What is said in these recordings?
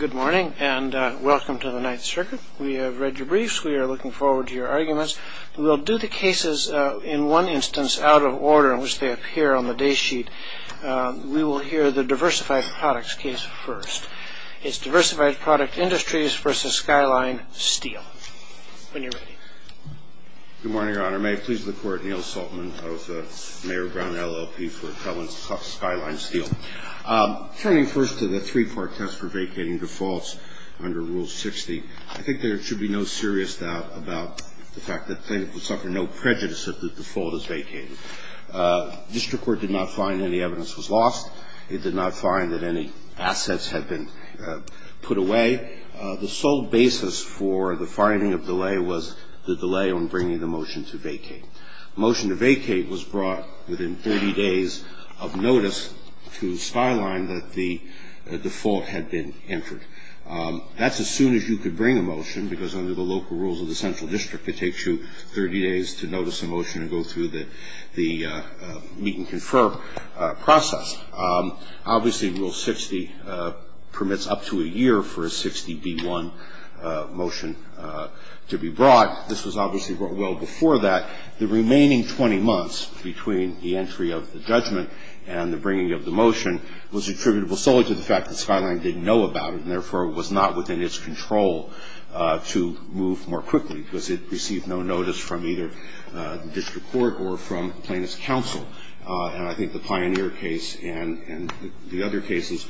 Good morning and welcome to the 9th Circuit. We have read your briefs, we are looking forward to your arguments. We will do the cases in one instance out of order in which they appear on the day sheet. We will hear the Diversified Products case first. It's Diversified Product Industries v. Skyline Steel. When you're ready. Good morning, Your Honor. May I please the Court, Neal Saltman, I was the Mayor of Brown, LLP for Skyline Steel. Turning first to the three-part test for vacating defaults under Rule 60. I think there should be no serious doubt about the fact that plaintiff would suffer no prejudice if the default is vacated. District Court did not find any evidence was lost. It did not find that any assets had been put away. The sole basis for the finding of delay was the delay on bringing the motion to vacate. Motion to vacate was brought within 30 days of notice to Skyline that the default had been entered. That's as soon as you could bring a motion, because under the local rules of the Central District, it takes you 30 days to notice a motion and go through the meet-and-confirm process. Obviously, Rule 60 permits up to a year for a 60-b-1 motion to be brought. This was obviously well before that. The remaining 20 months between the entry of the judgment and the bringing of the motion was attributable solely to the fact that Skyline didn't know about it, and therefore was not within its control to move more quickly, because it received no notice from either the District Court or from Plaintiff's Counsel. And I think the Pioneer case and the other cases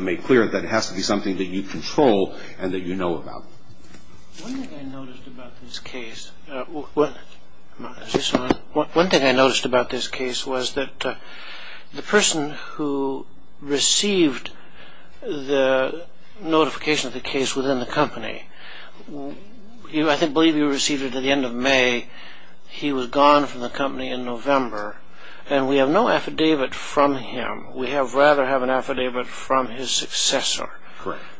make clear that it has to be something that you control and that you know about. One thing I noticed about this case was that the person who received the notification of the case within the company, I believe you received it at the end of May, he was gone from the company in November, and we have no affidavit from him. We would rather have an affidavit from his successor.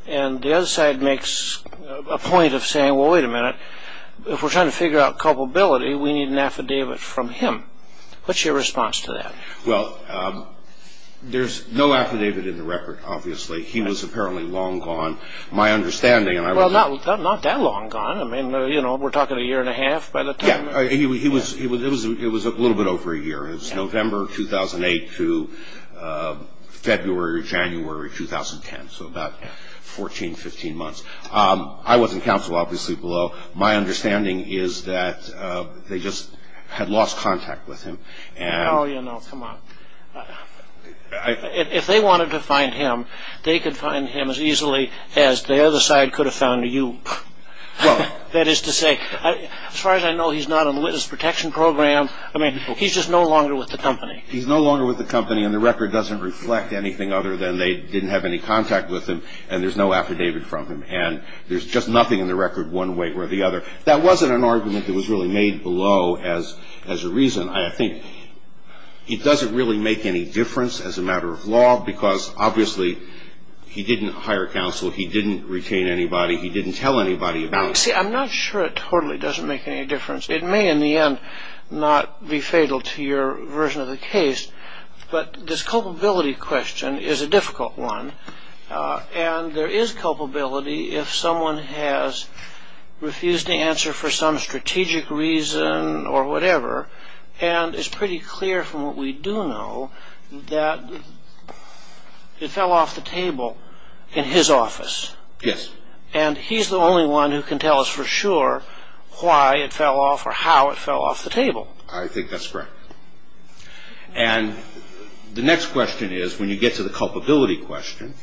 And the other side makes a point of saying, well, wait a minute, if we're trying to figure out culpability, we need an affidavit from him. What's your response to that? Well, there's no affidavit in the record, obviously. He was apparently long gone, my understanding. Well, not that long gone. I mean, you know, we're talking a year and a half by the time... It was a little bit over a year. It was November 2008 to February, January 2010, so about 14, 15 months. I wasn't counsel, obviously, below. My understanding is that they just had lost contact with him. Oh, you know, come on. If they wanted to find him, they could find him as easily as the other side could have found you. That is to say, as far as I know, he's not on the witness protection program. I mean, he's just no longer with the company. He's no longer with the company, and the record doesn't reflect anything other than they didn't have any contact with him, and there's no affidavit from him. And there's just nothing in the record one way or the other. That wasn't an argument that was really made below as a reason. I think it doesn't really make any difference as a matter of law, because obviously he didn't hire counsel, he didn't retain anybody, he didn't tell anybody about it. See, I'm not sure it totally doesn't make any difference. It may, in the end, not be fatal to your version of the case, but this culpability question is a difficult one. And there is culpability if someone has refused to answer for some strategic reason or whatever, and it's pretty clear from what we do know that it fell off the table in his office. Yes. And he's the only one who can tell us for sure why it fell off or how it fell off the table. I think that's correct. And the next question is, when you get to the culpability question,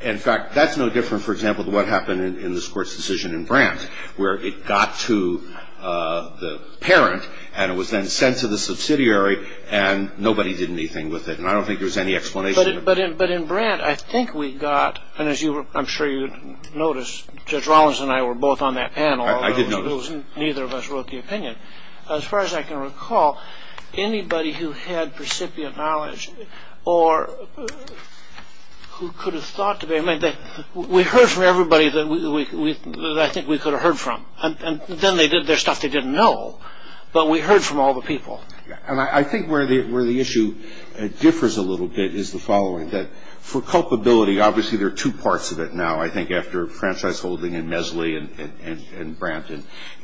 in fact, that's no different, for example, with what happened in this court's decision in Brandt, where it got to the parent, and it was then sent to the subsidiary, and nobody did anything with it. And I don't think there was any explanation. But in Brandt, I think we got, and I'm sure you noticed, Judge Rollins and I were both on that panel. I did notice. Although neither of us wrote the opinion. As far as I can recall, anybody who had precipient knowledge or who could have thought to be, we heard from everybody that I think we could have heard from. And then they did their stuff they didn't know, but we heard from all the people. And I think where the issue differs a little bit is the following, that for culpability, obviously there are two parts of it now, I think, after franchise holding in Mesley and Brandt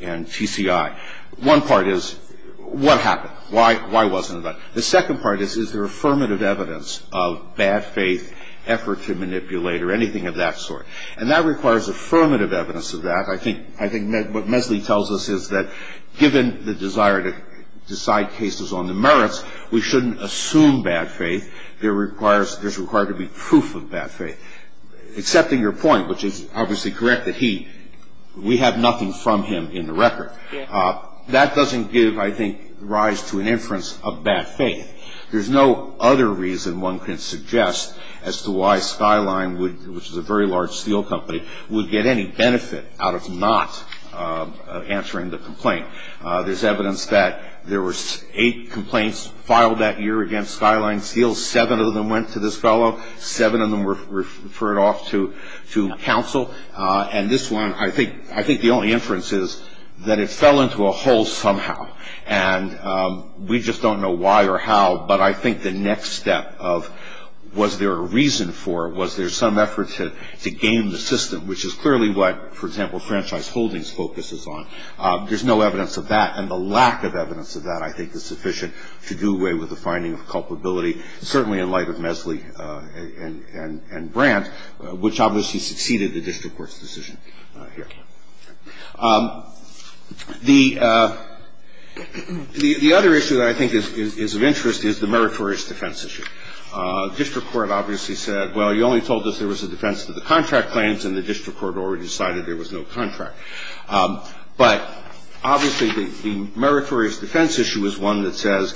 and TCI. One part is, what happened? Why wasn't it done? The second part is, is there affirmative evidence of bad faith, effort to manipulate, or anything of that sort? And that requires affirmative evidence of that. I think what Mesley tells us is that given the desire to decide cases on the merits, we shouldn't assume bad faith. There's required to be proof of bad faith. Accepting your point, which is obviously correct, that we have nothing from him in the record. That doesn't give, I think, rise to an inference of bad faith. There's no other reason one can suggest as to why Skyline, which is a very large steel company, would get any benefit out of not answering the complaint. There's evidence that there were eight complaints filed that year against Skyline Steel. Seven of them went to this fellow. Seven of them were referred off to counsel. And this one, I think the only inference is that it fell into a hole somehow. And we just don't know why or how. But I think the next step of, was there a reason for it? Was there some effort to game the system? Which is clearly what, for example, franchise holdings focuses on. There's no evidence of that. And the lack of evidence of that, I think, is sufficient to do away with the finding of culpability. Certainly in light of Mesley and Brandt, which obviously succeeded the district court's decision here. The other issue that I think is of interest is the meritorious defense issue. The district court obviously said, well, you only told us there was a defense to the contract claims, and the district court already decided there was no contract. But obviously the meritorious defense issue is one that says,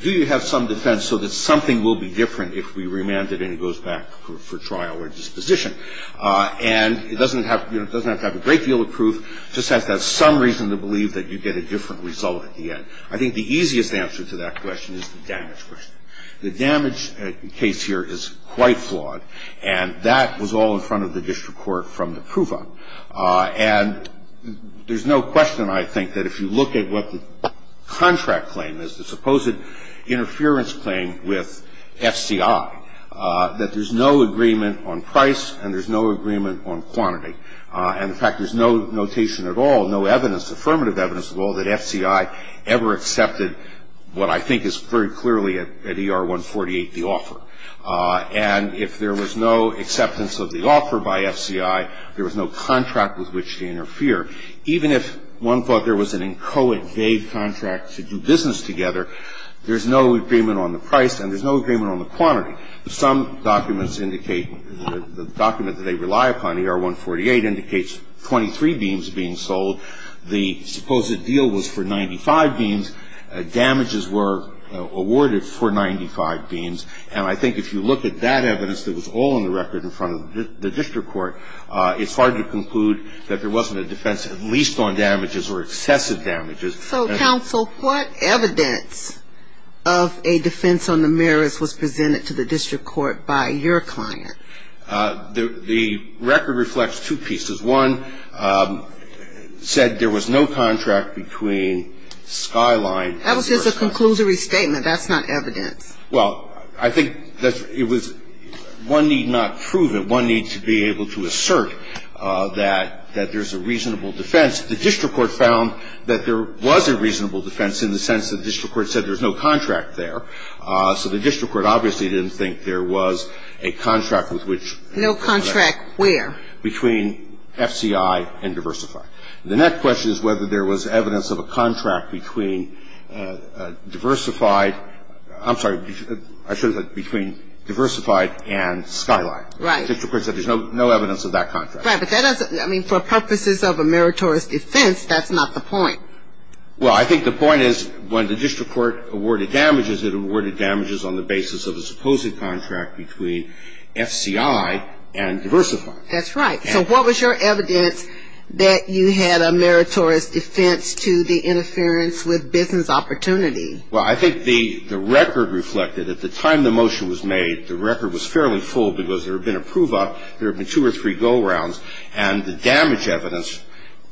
do you have some defense so that something will be different if we remand it and it goes back for trial or disposition? And it doesn't have to have a great deal of proof. It just has to have some reason to believe that you get a different result at the end. I think the easiest answer to that question is the damage question. The damage case here is quite flawed. And that was all in front of the district court from the proof up. And there's no question, I think, that if you look at what the contract claim is, the supposed interference claim with FCI, that there's no agreement on price and there's no agreement on quantity. And, in fact, there's no notation at all, no evidence, affirmative evidence at all, that FCI ever accepted what I think is very clearly at ER 148 the offer. And if there was no acceptance of the offer by FCI, there was no contract with which to interfere. Even if one thought there was an inchoate, vague contract to do business together, there's no agreement on the price and there's no agreement on the quantity. Some documents indicate, the document that they rely upon, ER 148, indicates 23 beams being sold. The supposed deal was for 95 beams. Damages were awarded for 95 beams. And I think if you look at that evidence that was all in the record in front of the district court, it's hard to conclude that there wasn't a defense at least on damages or excessive damages. So, counsel, what evidence of a defense on the merits was presented to the district court by your client? The record reflects two pieces. One said there was no contract between Skyline and ER 148. That was just a conclusory statement. That's not evidence. Well, I think that it was one need not prove it. One need to be able to assert that there's a reasonable defense. The district court found that there was a reasonable defense in the sense that the district court said there's no contract there. So the district court obviously didn't think there was a contract with which. No contract where? Between FCI and Diversified. The next question is whether there was evidence of a contract between Diversified I'm sorry, I should have said between Diversified and Skyline. The district court said there's no evidence of that contract. Right, but that doesn't, I mean, for purposes of a meritorious defense, that's not the point. Well, I think the point is when the district court awarded damages, it awarded damages on the basis of a supposed contract between FCI and Diversified. That's right. So what was your evidence that you had a meritorious defense to the interference with business opportunity? Well, I think the record reflected at the time the motion was made, the record was fairly full because there had been a prove-up, there had been two or three go-rounds, and the damage evidence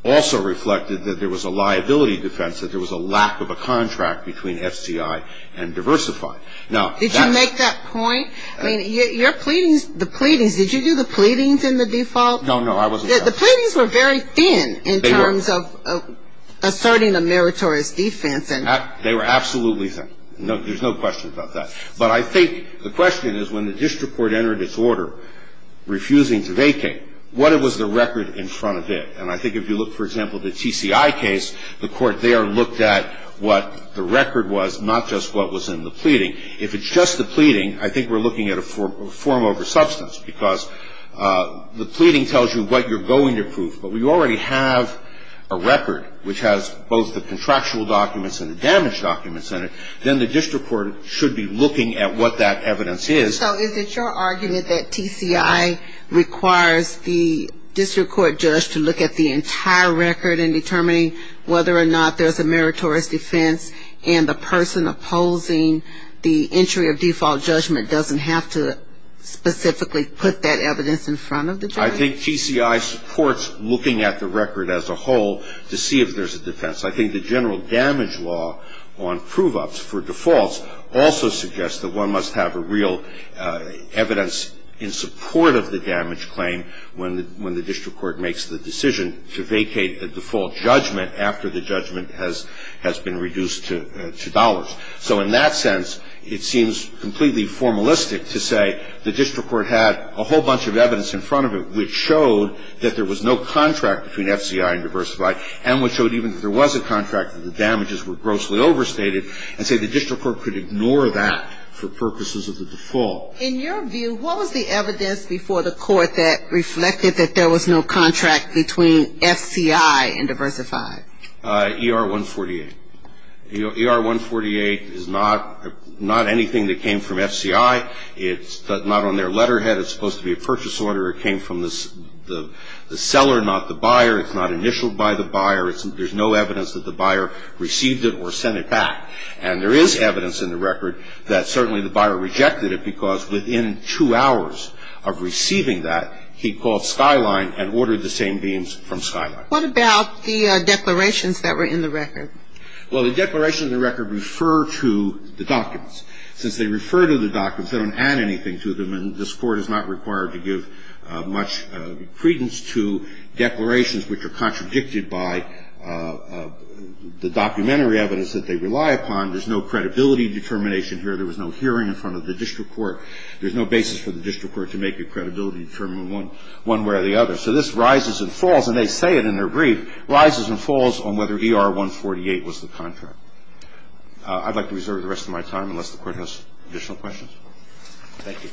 also reflected that there was a liability defense, that there was a lack of a contract between FCI and Diversified. Did you make that point? I mean, your pleadings, the pleadings, did you do the pleadings in the default? No, no, I wasn't there. The pleadings were very thin in terms of asserting a meritorious defense. They were absolutely thin. There's no question about that. But I think the question is when the district court entered its order refusing to vacate, what was the record in front of it? And I think if you look, for example, at the TCI case, the court there looked at what the record was, not just what was in the pleading. If it's just the pleading, I think we're looking at a form over substance because the pleading tells you what you're going to prove. But we already have a record which has both the contractual documents and the damage documents in it. Then the district court should be looking at what that evidence is. So is it your argument that TCI requires the district court judge to look at the entire record in determining whether or not there's a meritorious defense, and the person opposing the entry of default judgment doesn't have to specifically put that evidence in front of the judge? I think TCI supports looking at the record as a whole to see if there's a defense. I think the general damage law on prove-ups for defaults also suggests that one must have a real evidence in support of the damage claim when the district court makes the decision to vacate the default judgment after the judgment has been reduced to dollars. So in that sense, it seems completely formalistic to say the district court had a whole bunch of evidence in front of it which showed that there was no contract between FCI and Diversified and which showed even if there was a contract that the damages were grossly overstated and say the district court could ignore that for purposes of the default. In your view, what was the evidence before the court that reflected that there was no contract between FCI and Diversified? ER-148. ER-148 is not anything that came from FCI. It's not on their letterhead. It's supposed to be a purchase order. It came from the seller, not the buyer. It's not initialed by the buyer. There's no evidence that the buyer received it or sent it back. And there is evidence in the record that certainly the buyer rejected it because within two hours of receiving that, he called Skyline and ordered the same beams from Skyline. What about the declarations that were in the record? Well, the declarations in the record refer to the documents. Since they refer to the documents, they don't add anything to them, and this Court is not required to give much credence to declarations which are contradicted by the documentary evidence that they rely upon. There's no credibility determination here. There was no hearing in front of the district court. There's no basis for the district court to make a credibility determination one way or the other. So this rises and falls, and they say it in their brief, rises and falls on whether ER-148 was the contract. I'd like to reserve the rest of my time unless the Court has additional questions. Thank you.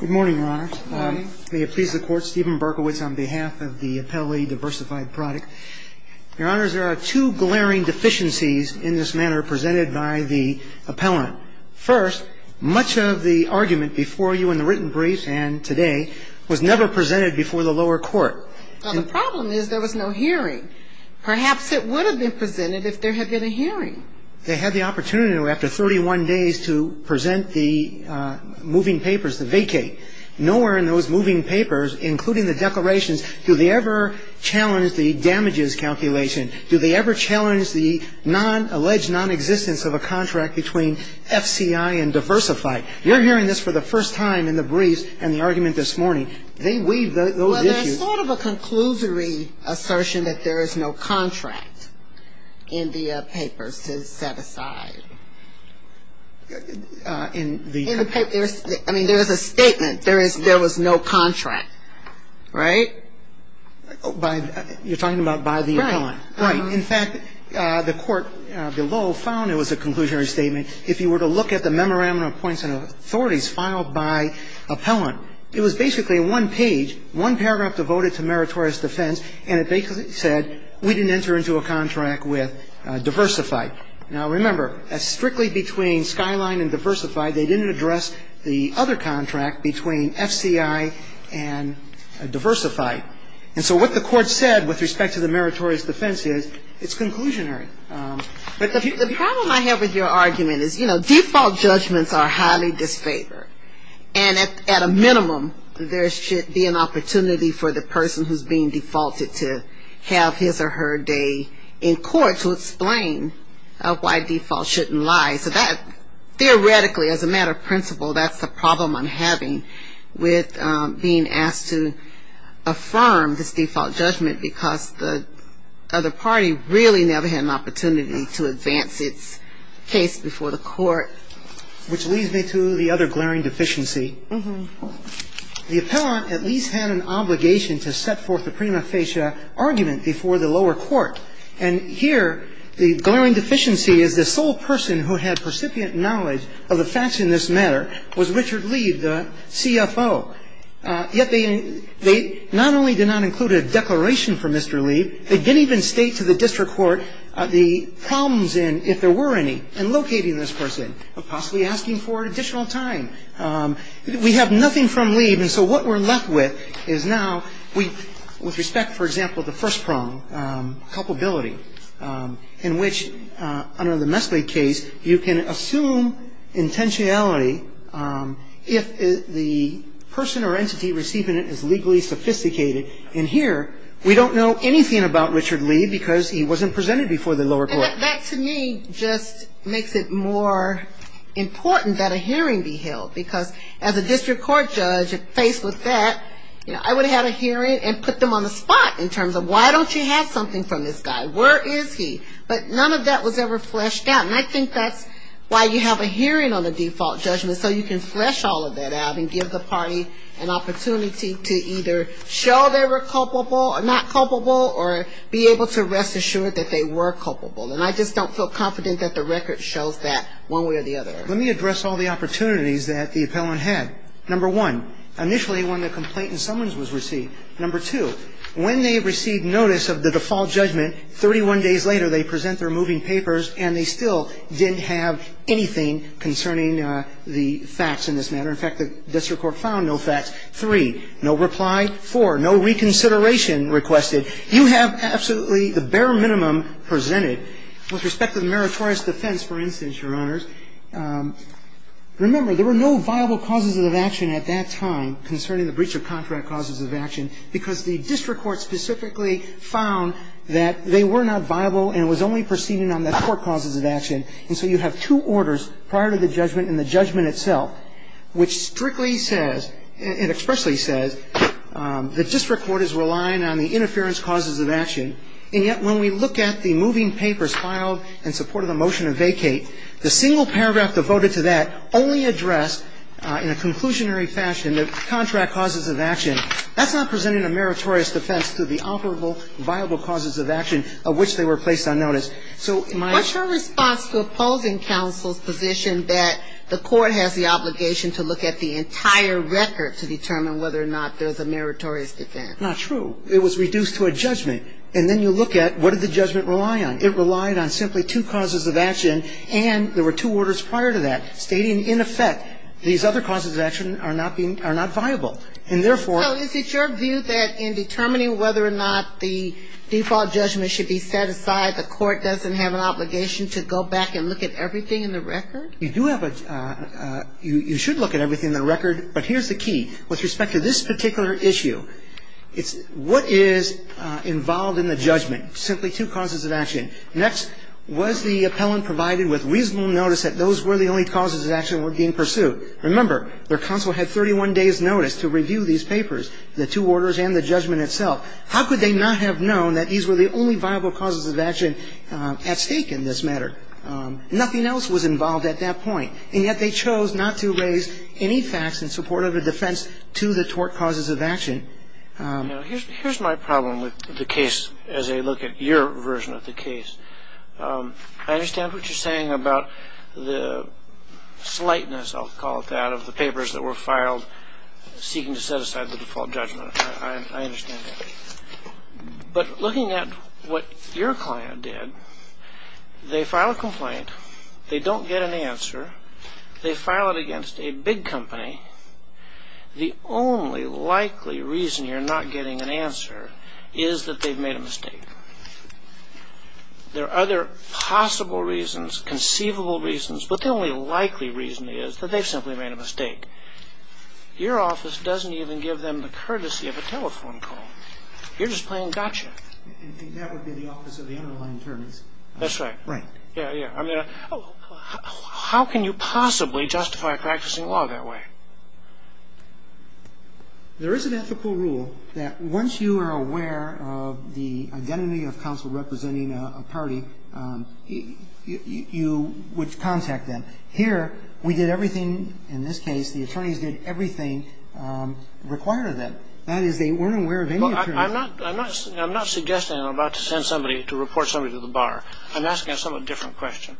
Good morning, Your Honor. Good morning. May it please the Court. Stephen Berkowitz on behalf of the Appellee Diversified Product. Your Honor, there are two glaring deficiencies in this manner presented by the appellant. First, much of the argument before you in the written brief and today was never presented before the lower court. Well, the problem is there was no hearing. Perhaps it would have been presented if there had been a hearing. They had the opportunity after 31 days to present the moving papers, the vacate. Nowhere in those moving papers, including the declarations, do they ever challenge the damages calculation. Do they ever challenge the non-alleged nonexistence of a contract between FCI and Diversified. You're hearing this for the first time in the briefs and the argument this morning. They weave those issues. Well, there's sort of a conclusory assertion that there is no contract in the papers to set aside. In the papers? I mean, there is a statement. There was no contract. Right? You're talking about by the appellant. Right. In fact, the court below found it was a conclusionary statement. If you were to look at the Memorandum of Appointment of Authorities filed by appellant, it was basically one page, one paragraph devoted to meritorious defense, and it basically said we didn't enter into a contract with Diversified. Now, remember, strictly between Skyline and Diversified, they didn't address the other contract between FCI and Diversified. And so what the court said with respect to the meritorious defense is it's conclusionary. But the problem I have with your argument is, you know, default judgments are highly disfavored. And at a minimum, there should be an opportunity for the person who's being defaulted to have his or her day in court to explain why default shouldn't lie. So that theoretically, as a matter of principle, that's the problem I'm having with being asked to affirm this default judgment because the other party really never had an opportunity to advance its case before the court. Which leads me to the other glaring deficiency. Mm-hmm. The appellant at least had an obligation to set forth the prima facie argument before the lower court. And here, the glaring deficiency is the sole person who had percipient knowledge of the facts in this matter was Richard Lee, the CFO. Yet they not only did not include a declaration from Mr. Lee, they didn't even state to the district court the problems in, if there were any, in locating this person or possibly asking for additional time. We have nothing from Lee. And so what we're left with is now we, with respect, for example, the first prong, culpability, in which, under the Mesley case, you can assume intentionality if the person or entity receiving it is legally sophisticated. And here, we don't know anything about Richard Lee because he wasn't presented before the lower court. That, to me, just makes it more important that a hearing be held because as a district court judge, faced with that, you know, I would have had a hearing and put them on the spot in terms of, why don't you have something from this guy? Where is he? But none of that was ever fleshed out. And I think that's why you have a hearing on the default judgment so you can flesh all of that out and give the party an opportunity to either show they were culpable or not culpable or be able to rest assured that they were culpable. And I just don't feel confident that the record shows that one way or the other. Let me address all the opportunities that the appellant had. Number one, initially when the complaint and summons was received. Number two, when they received notice of the default judgment, 31 days later, they present their moving papers and they still didn't have anything concerning the facts in this matter. In fact, the district court found no facts. Three, no reply. Four, no reconsideration requested. You have absolutely the bare minimum presented with respect to the meritorious defense, for instance, Your Honors. Remember, there were no viable causes of action at that time concerning the breach of contract causes of action because the district court specifically found that they were not viable and was only proceeding on the court causes of action. And so you have two orders prior to the judgment and the judgment itself, which strictly says and expressly says the district court is relying on the interference causes of action. And yet when we look at the moving papers filed in support of the motion to vacate, the single paragraph devoted to that only addressed in a conclusionary fashion the contract causes of action. That's not presenting a meritorious defense to the operable viable causes of action of which they were placed on notice. So my ---- What's your response to opposing counsel's position that the court has the obligation to look at the entire record to determine whether or not there's a meritorious defense? Not true. It was reduced to a judgment. And then you look at what did the judgment rely on. It relied on simply two causes of action. And there were two orders prior to that stating in effect these other causes of action are not being ---- are not viable. And therefore ---- So is it your view that in determining whether or not the default judgment should be set aside, the court doesn't have an obligation to go back and look at everything in the record? You do have a ---- you should look at everything in the record. But here's the key. With respect to this particular issue, it's what is involved in the judgment, simply two causes of action. Next, was the appellant provided with reasonable notice that those were the only causes of action that were being pursued? Remember, their counsel had 31 days' notice to review these papers, the two orders and the judgment itself. How could they not have known that these were the only viable causes of action at stake in this matter? Nothing else was involved at that point. And yet they chose not to raise any facts in support of a defense to the tort causes of action. Here's my problem with the case as I look at your version of the case. I understand what you're saying about the slightness, I'll call it that, of the papers that were filed seeking to set aside the default judgment. I understand that. But looking at what your client did, they file a complaint, they don't get an answer, they file it against a big company, the only likely reason you're not getting an answer is that they've made a mistake. There are other possible reasons, conceivable reasons, but the only likely reason is that they've simply made a mistake. Your office doesn't even give them the courtesy of a telephone call. You're just playing gotcha. And that would be the office of the underlying attorneys. That's right. Right. Yeah, yeah. How can you possibly justify practicing law that way? There is an ethical rule that once you are aware of the identity of counsel representing a party, you would contact them. Here we did everything, in this case, the attorneys did everything required of them. That is, they weren't aware of any appearance. I'm not suggesting I'm about to send somebody to report somebody to the bar. I'm asking a somewhat different question.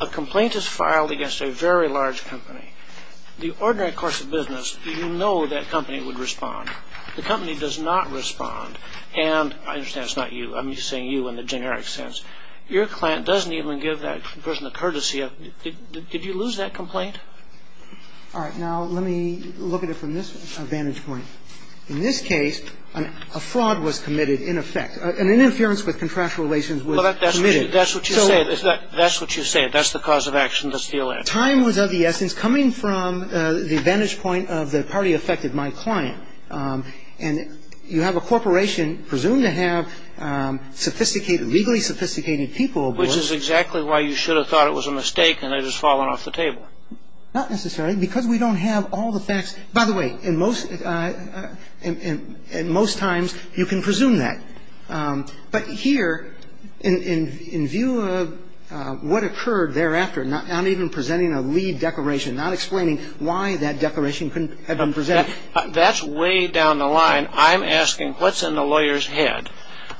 A complaint is filed against a very large company. The ordinary course of business, you know that company would respond. The company does not respond. And I understand it's not you. I'm saying you in the generic sense. Your client doesn't even give that person the courtesy of, did you lose that complaint? All right. Now, let me look at it from this vantage point. In this case, a fraud was committed, in effect. An interference with contractual relations was committed. That's what you said. That's what you said. That's the cause of action. Time was of the essence coming from the vantage point of the party affected my client. And you have a corporation presumed to have sophisticated, legally sophisticated people. Which is exactly why you should have thought it was a mistake and it has fallen off the table. Not necessarily. Because we don't have all the facts. By the way, in most times, you can presume that. But here, in view of what occurred thereafter, not even presenting a lead declaration, not explaining why that declaration had been presented. That's way down the line. I'm asking what's in the lawyer's head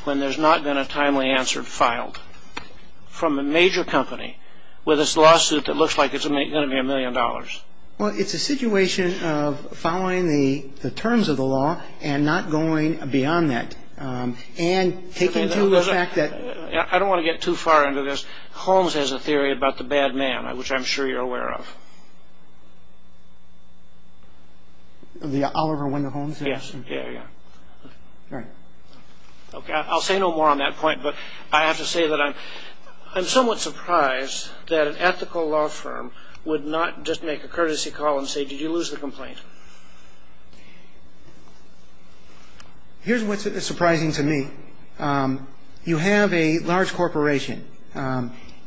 when there's not been a timely answer filed from a major company with this lawsuit that looks like it's going to be a million dollars? Well, it's a situation of following the terms of the law and not going beyond that. And taking to the fact that... I don't want to get too far into this. Holmes has a theory about the bad man, which I'm sure you're aware of. The Oliver Wendell Holmes? Yes. Yeah, yeah. All right. Okay. I'll say no more on that point. But I have to say that I'm somewhat surprised that an ethical law firm would not just make a courtesy call and say, did you lose the complaint? Here's what's surprising to me. You have a large corporation.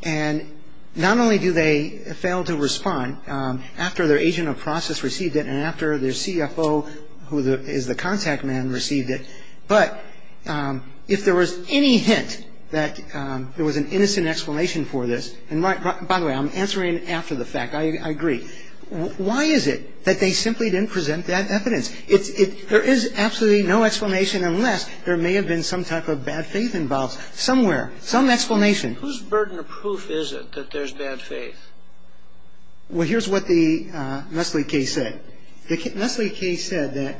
And not only do they fail to respond after their agent of process received it and after their CFO, who is the contact man, received it. But if there was any hint that there was an innocent explanation for this, and by the way, I'm answering after the fact. I agree. Why is it that they simply didn't present that evidence? There is absolutely no explanation unless there may have been some type of bad faith involved somewhere, some explanation. Whose burden of proof is it that there's bad faith? Well, here's what the Nestle case said. Nestle case said that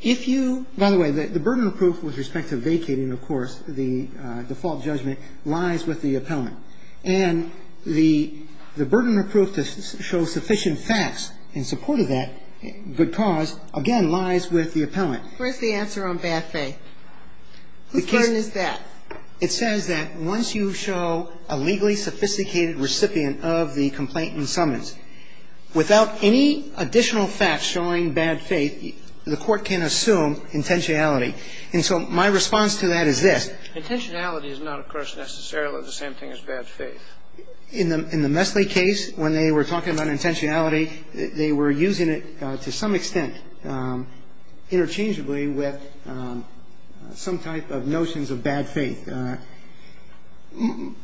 if you ñ by the way, the burden of proof with respect to vacating, of course, the default judgment, lies with the appellant. And the burden of proof to show sufficient facts in support of that good cause, again, lies with the appellant. Where's the answer on bad faith? Whose burden is that? It says that once you show a legally sophisticated recipient of the complaint and summons, without any additional facts showing bad faith, the court can assume intentionality. And so my response to that is this. Intentionality is not, of course, necessarily the same thing as bad faith. In the Nestle case, when they were talking about intentionality, they were using it to some extent interchangeably with some type of notions of bad faith. And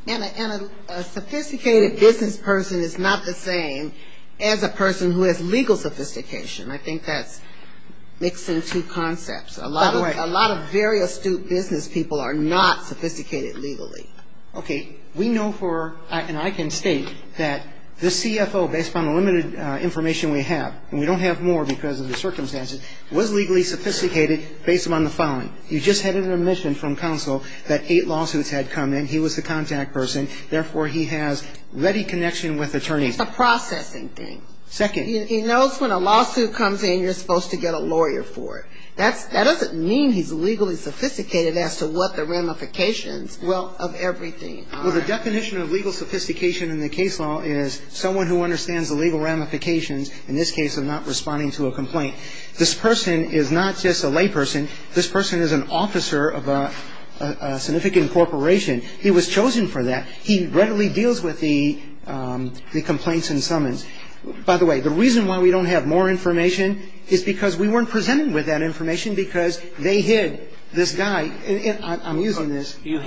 a sophisticated business person is not the same as a person who has legal sophistication. I think that's mixed in two concepts. By the way. A lot of very astute business people are not sophisticated legally. Okay. We know for ñ and I can state that the CFO, based on the limited information we have, and we don't have more because of the circumstances, was legally sophisticated based upon the following. You just had an admission from counsel that eight lawsuits had come in. He was the contact person. Therefore, he has ready connection with attorneys. It's a processing thing. Second. He knows when a lawsuit comes in, you're supposed to get a lawyer for it. That doesn't mean he's legally sophisticated as to what the ramifications, well, of everything are. Well, the definition of legal sophistication in the case law is someone who understands the legal ramifications, in this case, of not responding to a complaint. This person is not just a layperson. This person is an officer of a significant corporation. He was chosen for that. He readily deals with the complaints and summons. By the way, the reason why we don't have more information is because we weren't presenting with that information because they hid this guy. I'm using this. You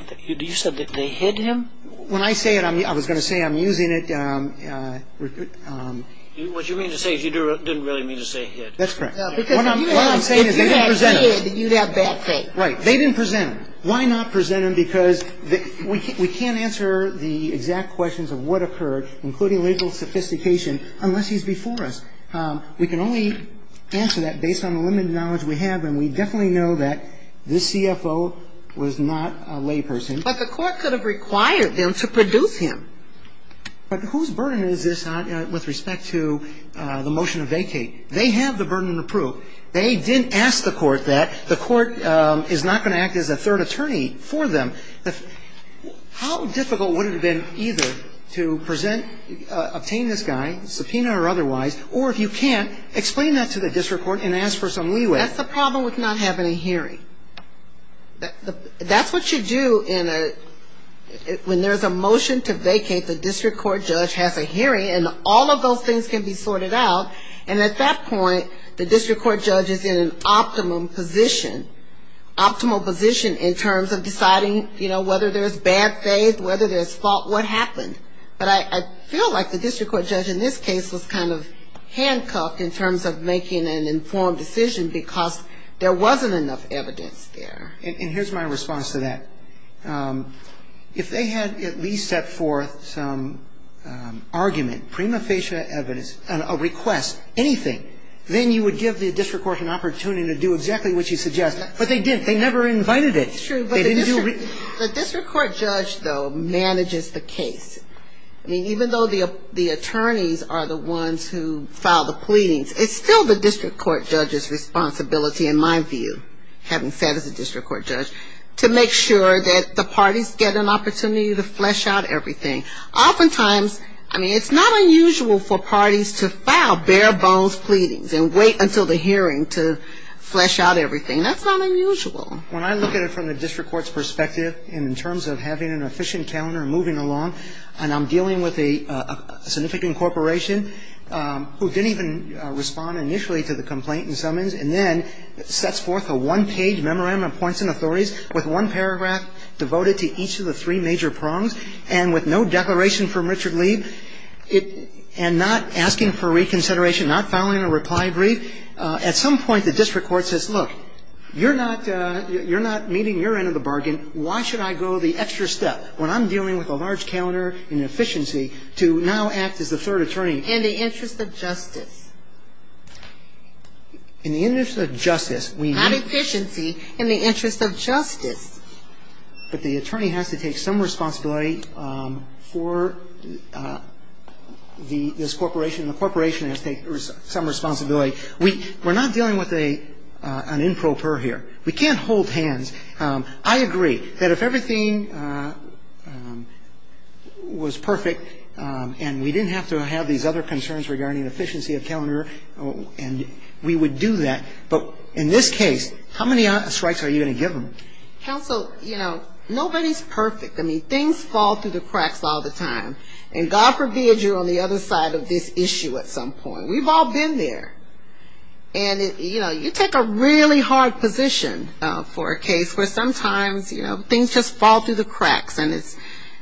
said that they hid him? When I say it, I was going to say I'm using it. What you mean to say is you didn't really mean to say hid. That's correct. What I'm saying is they didn't present him. Right. They didn't present him. Why not present him? Because we can't answer the exact questions of what occurred, including legal sophistication, unless he's before us. We can only answer that based on the limited knowledge we have, and we definitely know that this CFO was not a layperson. But the Court could have required them to produce him. But whose burden is this with respect to the motion to vacate? They have the burden of proof. They didn't ask the Court that. The Court is not going to act as a third attorney for them. How difficult would it have been either to present, obtain this guy, subpoena or otherwise, or if you can't, explain that to the district court and ask for some leeway? That's the problem with not having a hearing. That's what you do when there's a motion to vacate. The district court judge has a hearing, and all of those things can be sorted out. And at that point, the district court judge is in an optimum position, optimal position in terms of deciding, you know, whether there's bad faith, whether there's fault, what happened. But I feel like the district court judge in this case was kind of handcuffed in terms of making an informed decision because there wasn't enough evidence there. And here's my response to that. If they had at least set forth some argument, prima facie evidence, a request, anything, then you would give the district court an opportunity to do exactly what you suggest. But they didn't. They never invited it. It's true, but the district court judge, though, manages the case. I mean, even though the attorneys are the ones who file the pleadings, it's still the district court judge's responsibility, in my view, having said as a district court judge, to make sure that the parties get an opportunity to flesh out everything. Oftentimes, I mean, it's not unusual for parties to file bare-bones pleadings and wait until the hearing to flesh out everything. That's not unusual. When I look at it from the district court's perspective, and in terms of having an efficient calendar moving along, and I'm dealing with a significant corporation who didn't even respond initially to the complaint and summons, and then sets forth a one-page memorandum of points and authorities with one paragraph devoted to each of the three major prongs and with no declaration from Richard Lee and not asking for reconsideration, not filing a reply brief, at some point the district court says, look, you're not meeting your end of the bargain. Why should I go the extra step when I'm dealing with a large calendar and efficiency to now act as the third attorney? And the interest of justice. In the interest of justice, we need. Not efficiency. In the interest of justice. But the attorney has to take some responsibility for this corporation, and the corporation has to take some responsibility. We're not dealing with an improper here. We can't hold hands. I agree that if everything was perfect and we didn't have to have these other concerns regarding efficiency of calendar, and we would do that. But in this case, how many strikes are you going to give them? Counsel, you know, nobody's perfect. I mean, things fall through the cracks all the time. And God forbid you're on the other side of this issue at some point. We've all been there. And, you know, you take a really hard position for a case where sometimes, you know, things just fall through the cracks and it's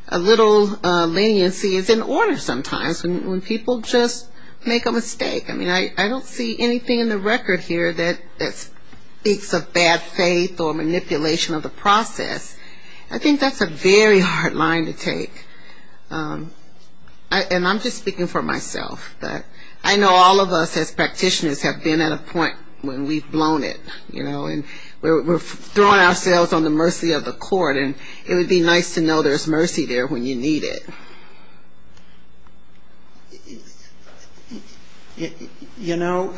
a little leniency is in order sometimes when people just make a mistake. I mean, I don't see anything in the record here that speaks of bad faith or manipulation of the process. I think that's a very hard line to take. And I'm just speaking for myself. I know all of us as practitioners have been at a point when we've blown it, you know, and we're throwing ourselves on the mercy of the court, and it would be nice to know there's mercy there when you need it. You know,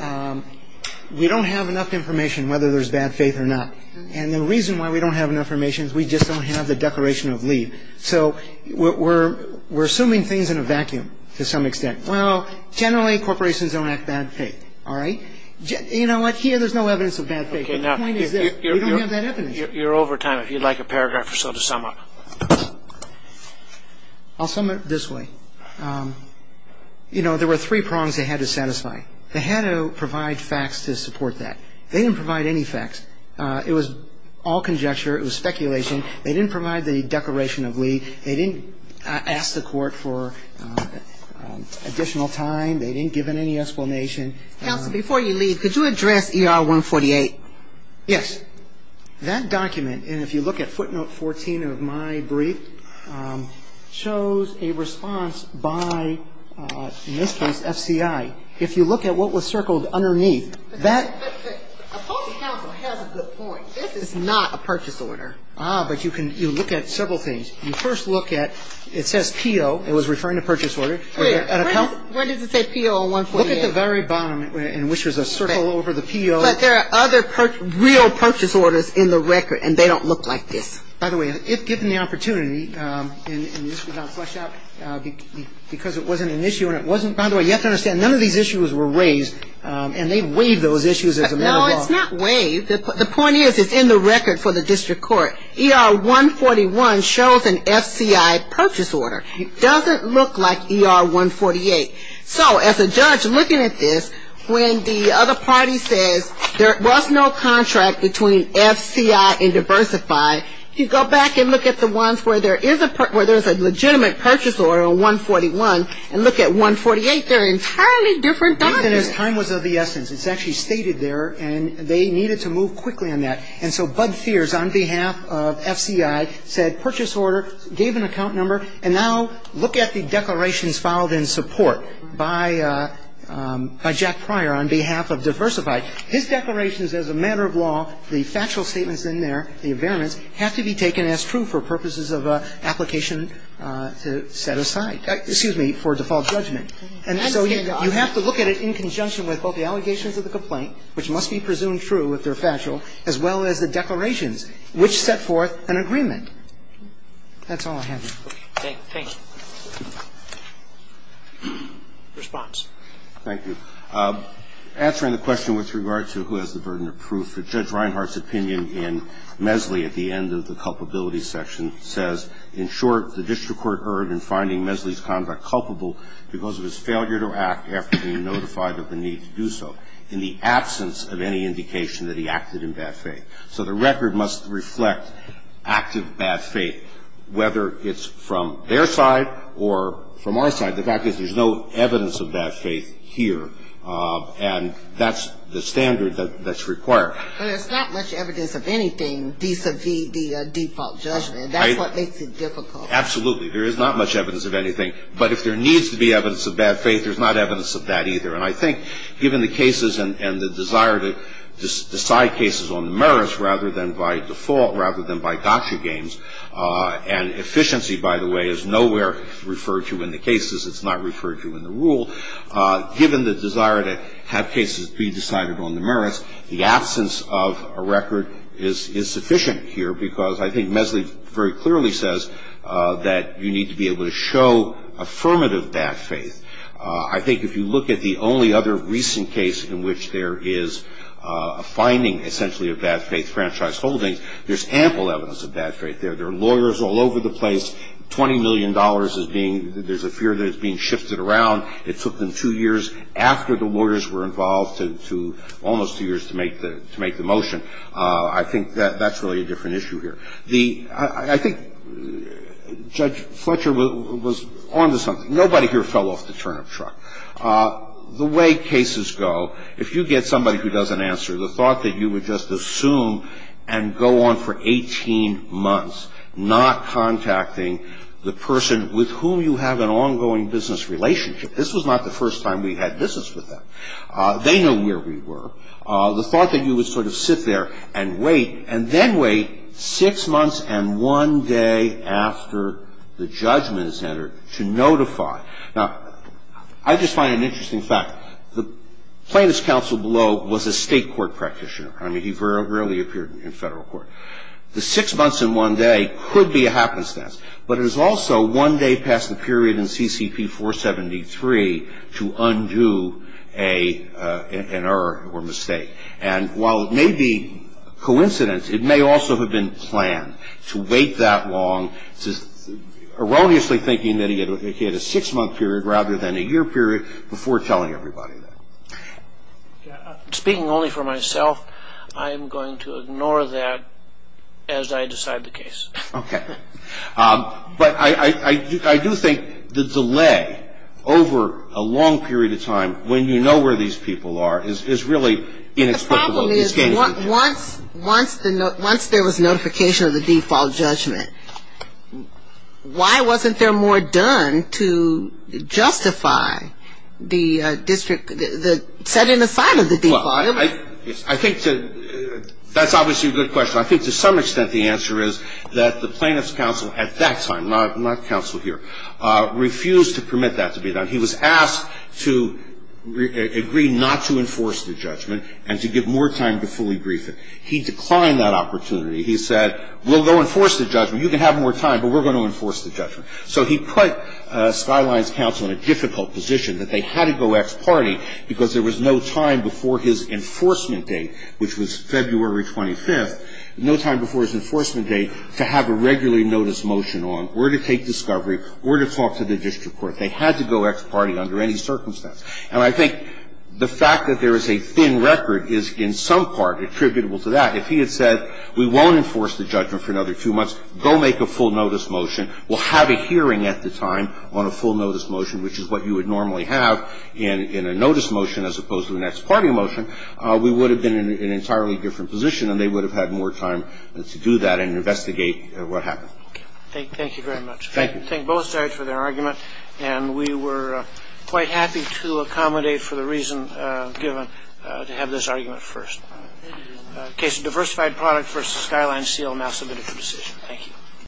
we don't have enough information whether there's bad faith or not. And the reason why we don't have enough information is we just don't have the declaration of leave. So we're assuming things in a vacuum to some extent. Well, generally, corporations don't act bad faith. All right? You know what? Here there's no evidence of bad faith. The point is that we don't have that evidence. Your overtime, if you'd like a paragraph or so to sum up. I'll sum it this way. You know, there were three prongs they had to satisfy. They had to provide facts to support that. They didn't provide any facts. It was all conjecture. It was speculation. They didn't provide the declaration of leave. They didn't ask the court for additional time. They didn't give it any explanation. Counsel, before you leave, could you address ER 148? Yes. That document, and if you look at footnote 14 of my brief, shows a response by, in this case, FCI. If you look at what was circled underneath, that — But the appellate counsel has a good point. This is not a purchase order. Ah, but you can — you look at several things. You first look at — it says P.O. It was referring to purchase order. Wait. When does it say P.O. on 148? Look at the very bottom, in which there's a circle over the P.O. But there are other real purchase orders in the record, and they don't look like this. By the way, if given the opportunity, and this was not fleshed out because it wasn't an issue and it wasn't — by the way, you have to understand, none of these issues were raised, and they waived those issues as a matter of law. No, it's not waived. The point is, it's in the record for the district court. ER 141 shows an FCI purchase order. It doesn't look like ER 148. So as a judge, looking at this, when the other party says there was no contract between FCI and Diversify, if you go back and look at the ones where there is a — where there's a legitimate purchase order on 141, and look at 148, they're entirely different documents. Even as time was of the essence. It's actually stated there, and they needed to move quickly on that. And so Bud Fears, on behalf of FCI, said purchase order, gave an account number, and now look at the declarations filed in support by Jack Pryor on behalf of Diversify. His declarations, as a matter of law, the factual statements in there, the variance, have to be taken as true for purposes of application to set aside — excuse me, for default judgment. And so you have to look at it in conjunction with both the allegations of the complaint, which must be presumed true if they're factual, as well as the declarations, which set forth an agreement. That's all I have. Okay. Thank you. Response. Thank you. Answering the question with regard to who has the burden of proof, Judge Reinhart's opinion in Mesley at the end of the culpability section says, in short, the district court erred in finding Mesley's conduct culpable because of his failure to act after being notified of the need to do so, in the absence of any indication that he acted in bad faith. So the record must reflect active bad faith, whether it's from their side or from our side. The fact is there's no evidence of bad faith here. And that's the standard that's required. But there's not much evidence of anything vis-à-vis the default judgment. Right. That's what makes it difficult. Absolutely. There is not much evidence of anything. But if there needs to be evidence of bad faith, there's not evidence of that either. And I think given the cases and the desire to decide cases on the merits rather than by default, rather than by gotcha games, and efficiency, by the way, is nowhere referred to in the cases. It's not referred to in the rule. Given the desire to have cases be decided on the merits, the absence of a record is sufficient here, because I think Mesley very clearly says that you need to be able to show affirmative bad faith. I think if you look at the only other recent case in which there is a finding, essentially, of bad faith, franchise holdings, there's ample evidence of bad faith there. There are lawyers all over the place. $20 million is being ‑‑ there's a fear that it's being shifted around. It took them two years after the lawyers were involved to almost two years to make the motion. I think that's really a different issue here. I think Judge Fletcher was on to something. Nobody here fell off the turnip truck. The way cases go, if you get somebody who doesn't answer, the thought that you would just assume and go on for 18 months, not contacting the person with whom you have an ongoing business relationship. This was not the first time we had business with them. They know where we were. The thought that you would sort of sit there and wait, and then wait six months and one day after the judgment is entered to notify. Now, I just find it an interesting fact. The plaintiff's counsel below was a state court practitioner. I mean, he rarely appeared in federal court. The six months and one day could be a happenstance, but it is also one day past the period in CCP 473 to undo an error or mistake. And while it may be coincidence, it may also have been planned to wait that long, erroneously thinking that he had a six-month period rather than a year period, before telling everybody that. Speaking only for myself, I am going to ignore that as I decide the case. Okay. But I do think the delay over a long period of time, when you know where these people are, is really inexplicable. The problem is once there was notification of the default judgment, why wasn't there more done to justify the district setting aside of the default? I think that's obviously a good question. I think to some extent the answer is that the plaintiff's counsel at that time, not counsel here, refused to permit that to be done. He was asked to agree not to enforce the judgment and to give more time to fully brief it. He declined that opportunity. He said, we'll go enforce the judgment. You can have more time, but we're going to enforce the judgment. So he put Skyline's counsel in a difficult position that they had to go ex parte because there was no time before his enforcement date, which was February 25th, no time before his enforcement date to have a regular notice motion on where to take discovery, where to talk to the district court. They had to go ex parte under any circumstance. And I think the fact that there is a thin record is in some part attributable to that. If he had said we won't enforce the judgment for another few months, go make a full notice motion, we'll have a hearing at the time on a full notice motion, which is what you would normally have in a notice motion as opposed to an ex parte motion, we would have been in an entirely different position and they would have had more time to do that and investigate what happened. Thank you very much. Thank you. And we were quite happy to accommodate for the reason given to have this argument first. Case of diversified product versus Skyline seal now submitted for decision. Thank you.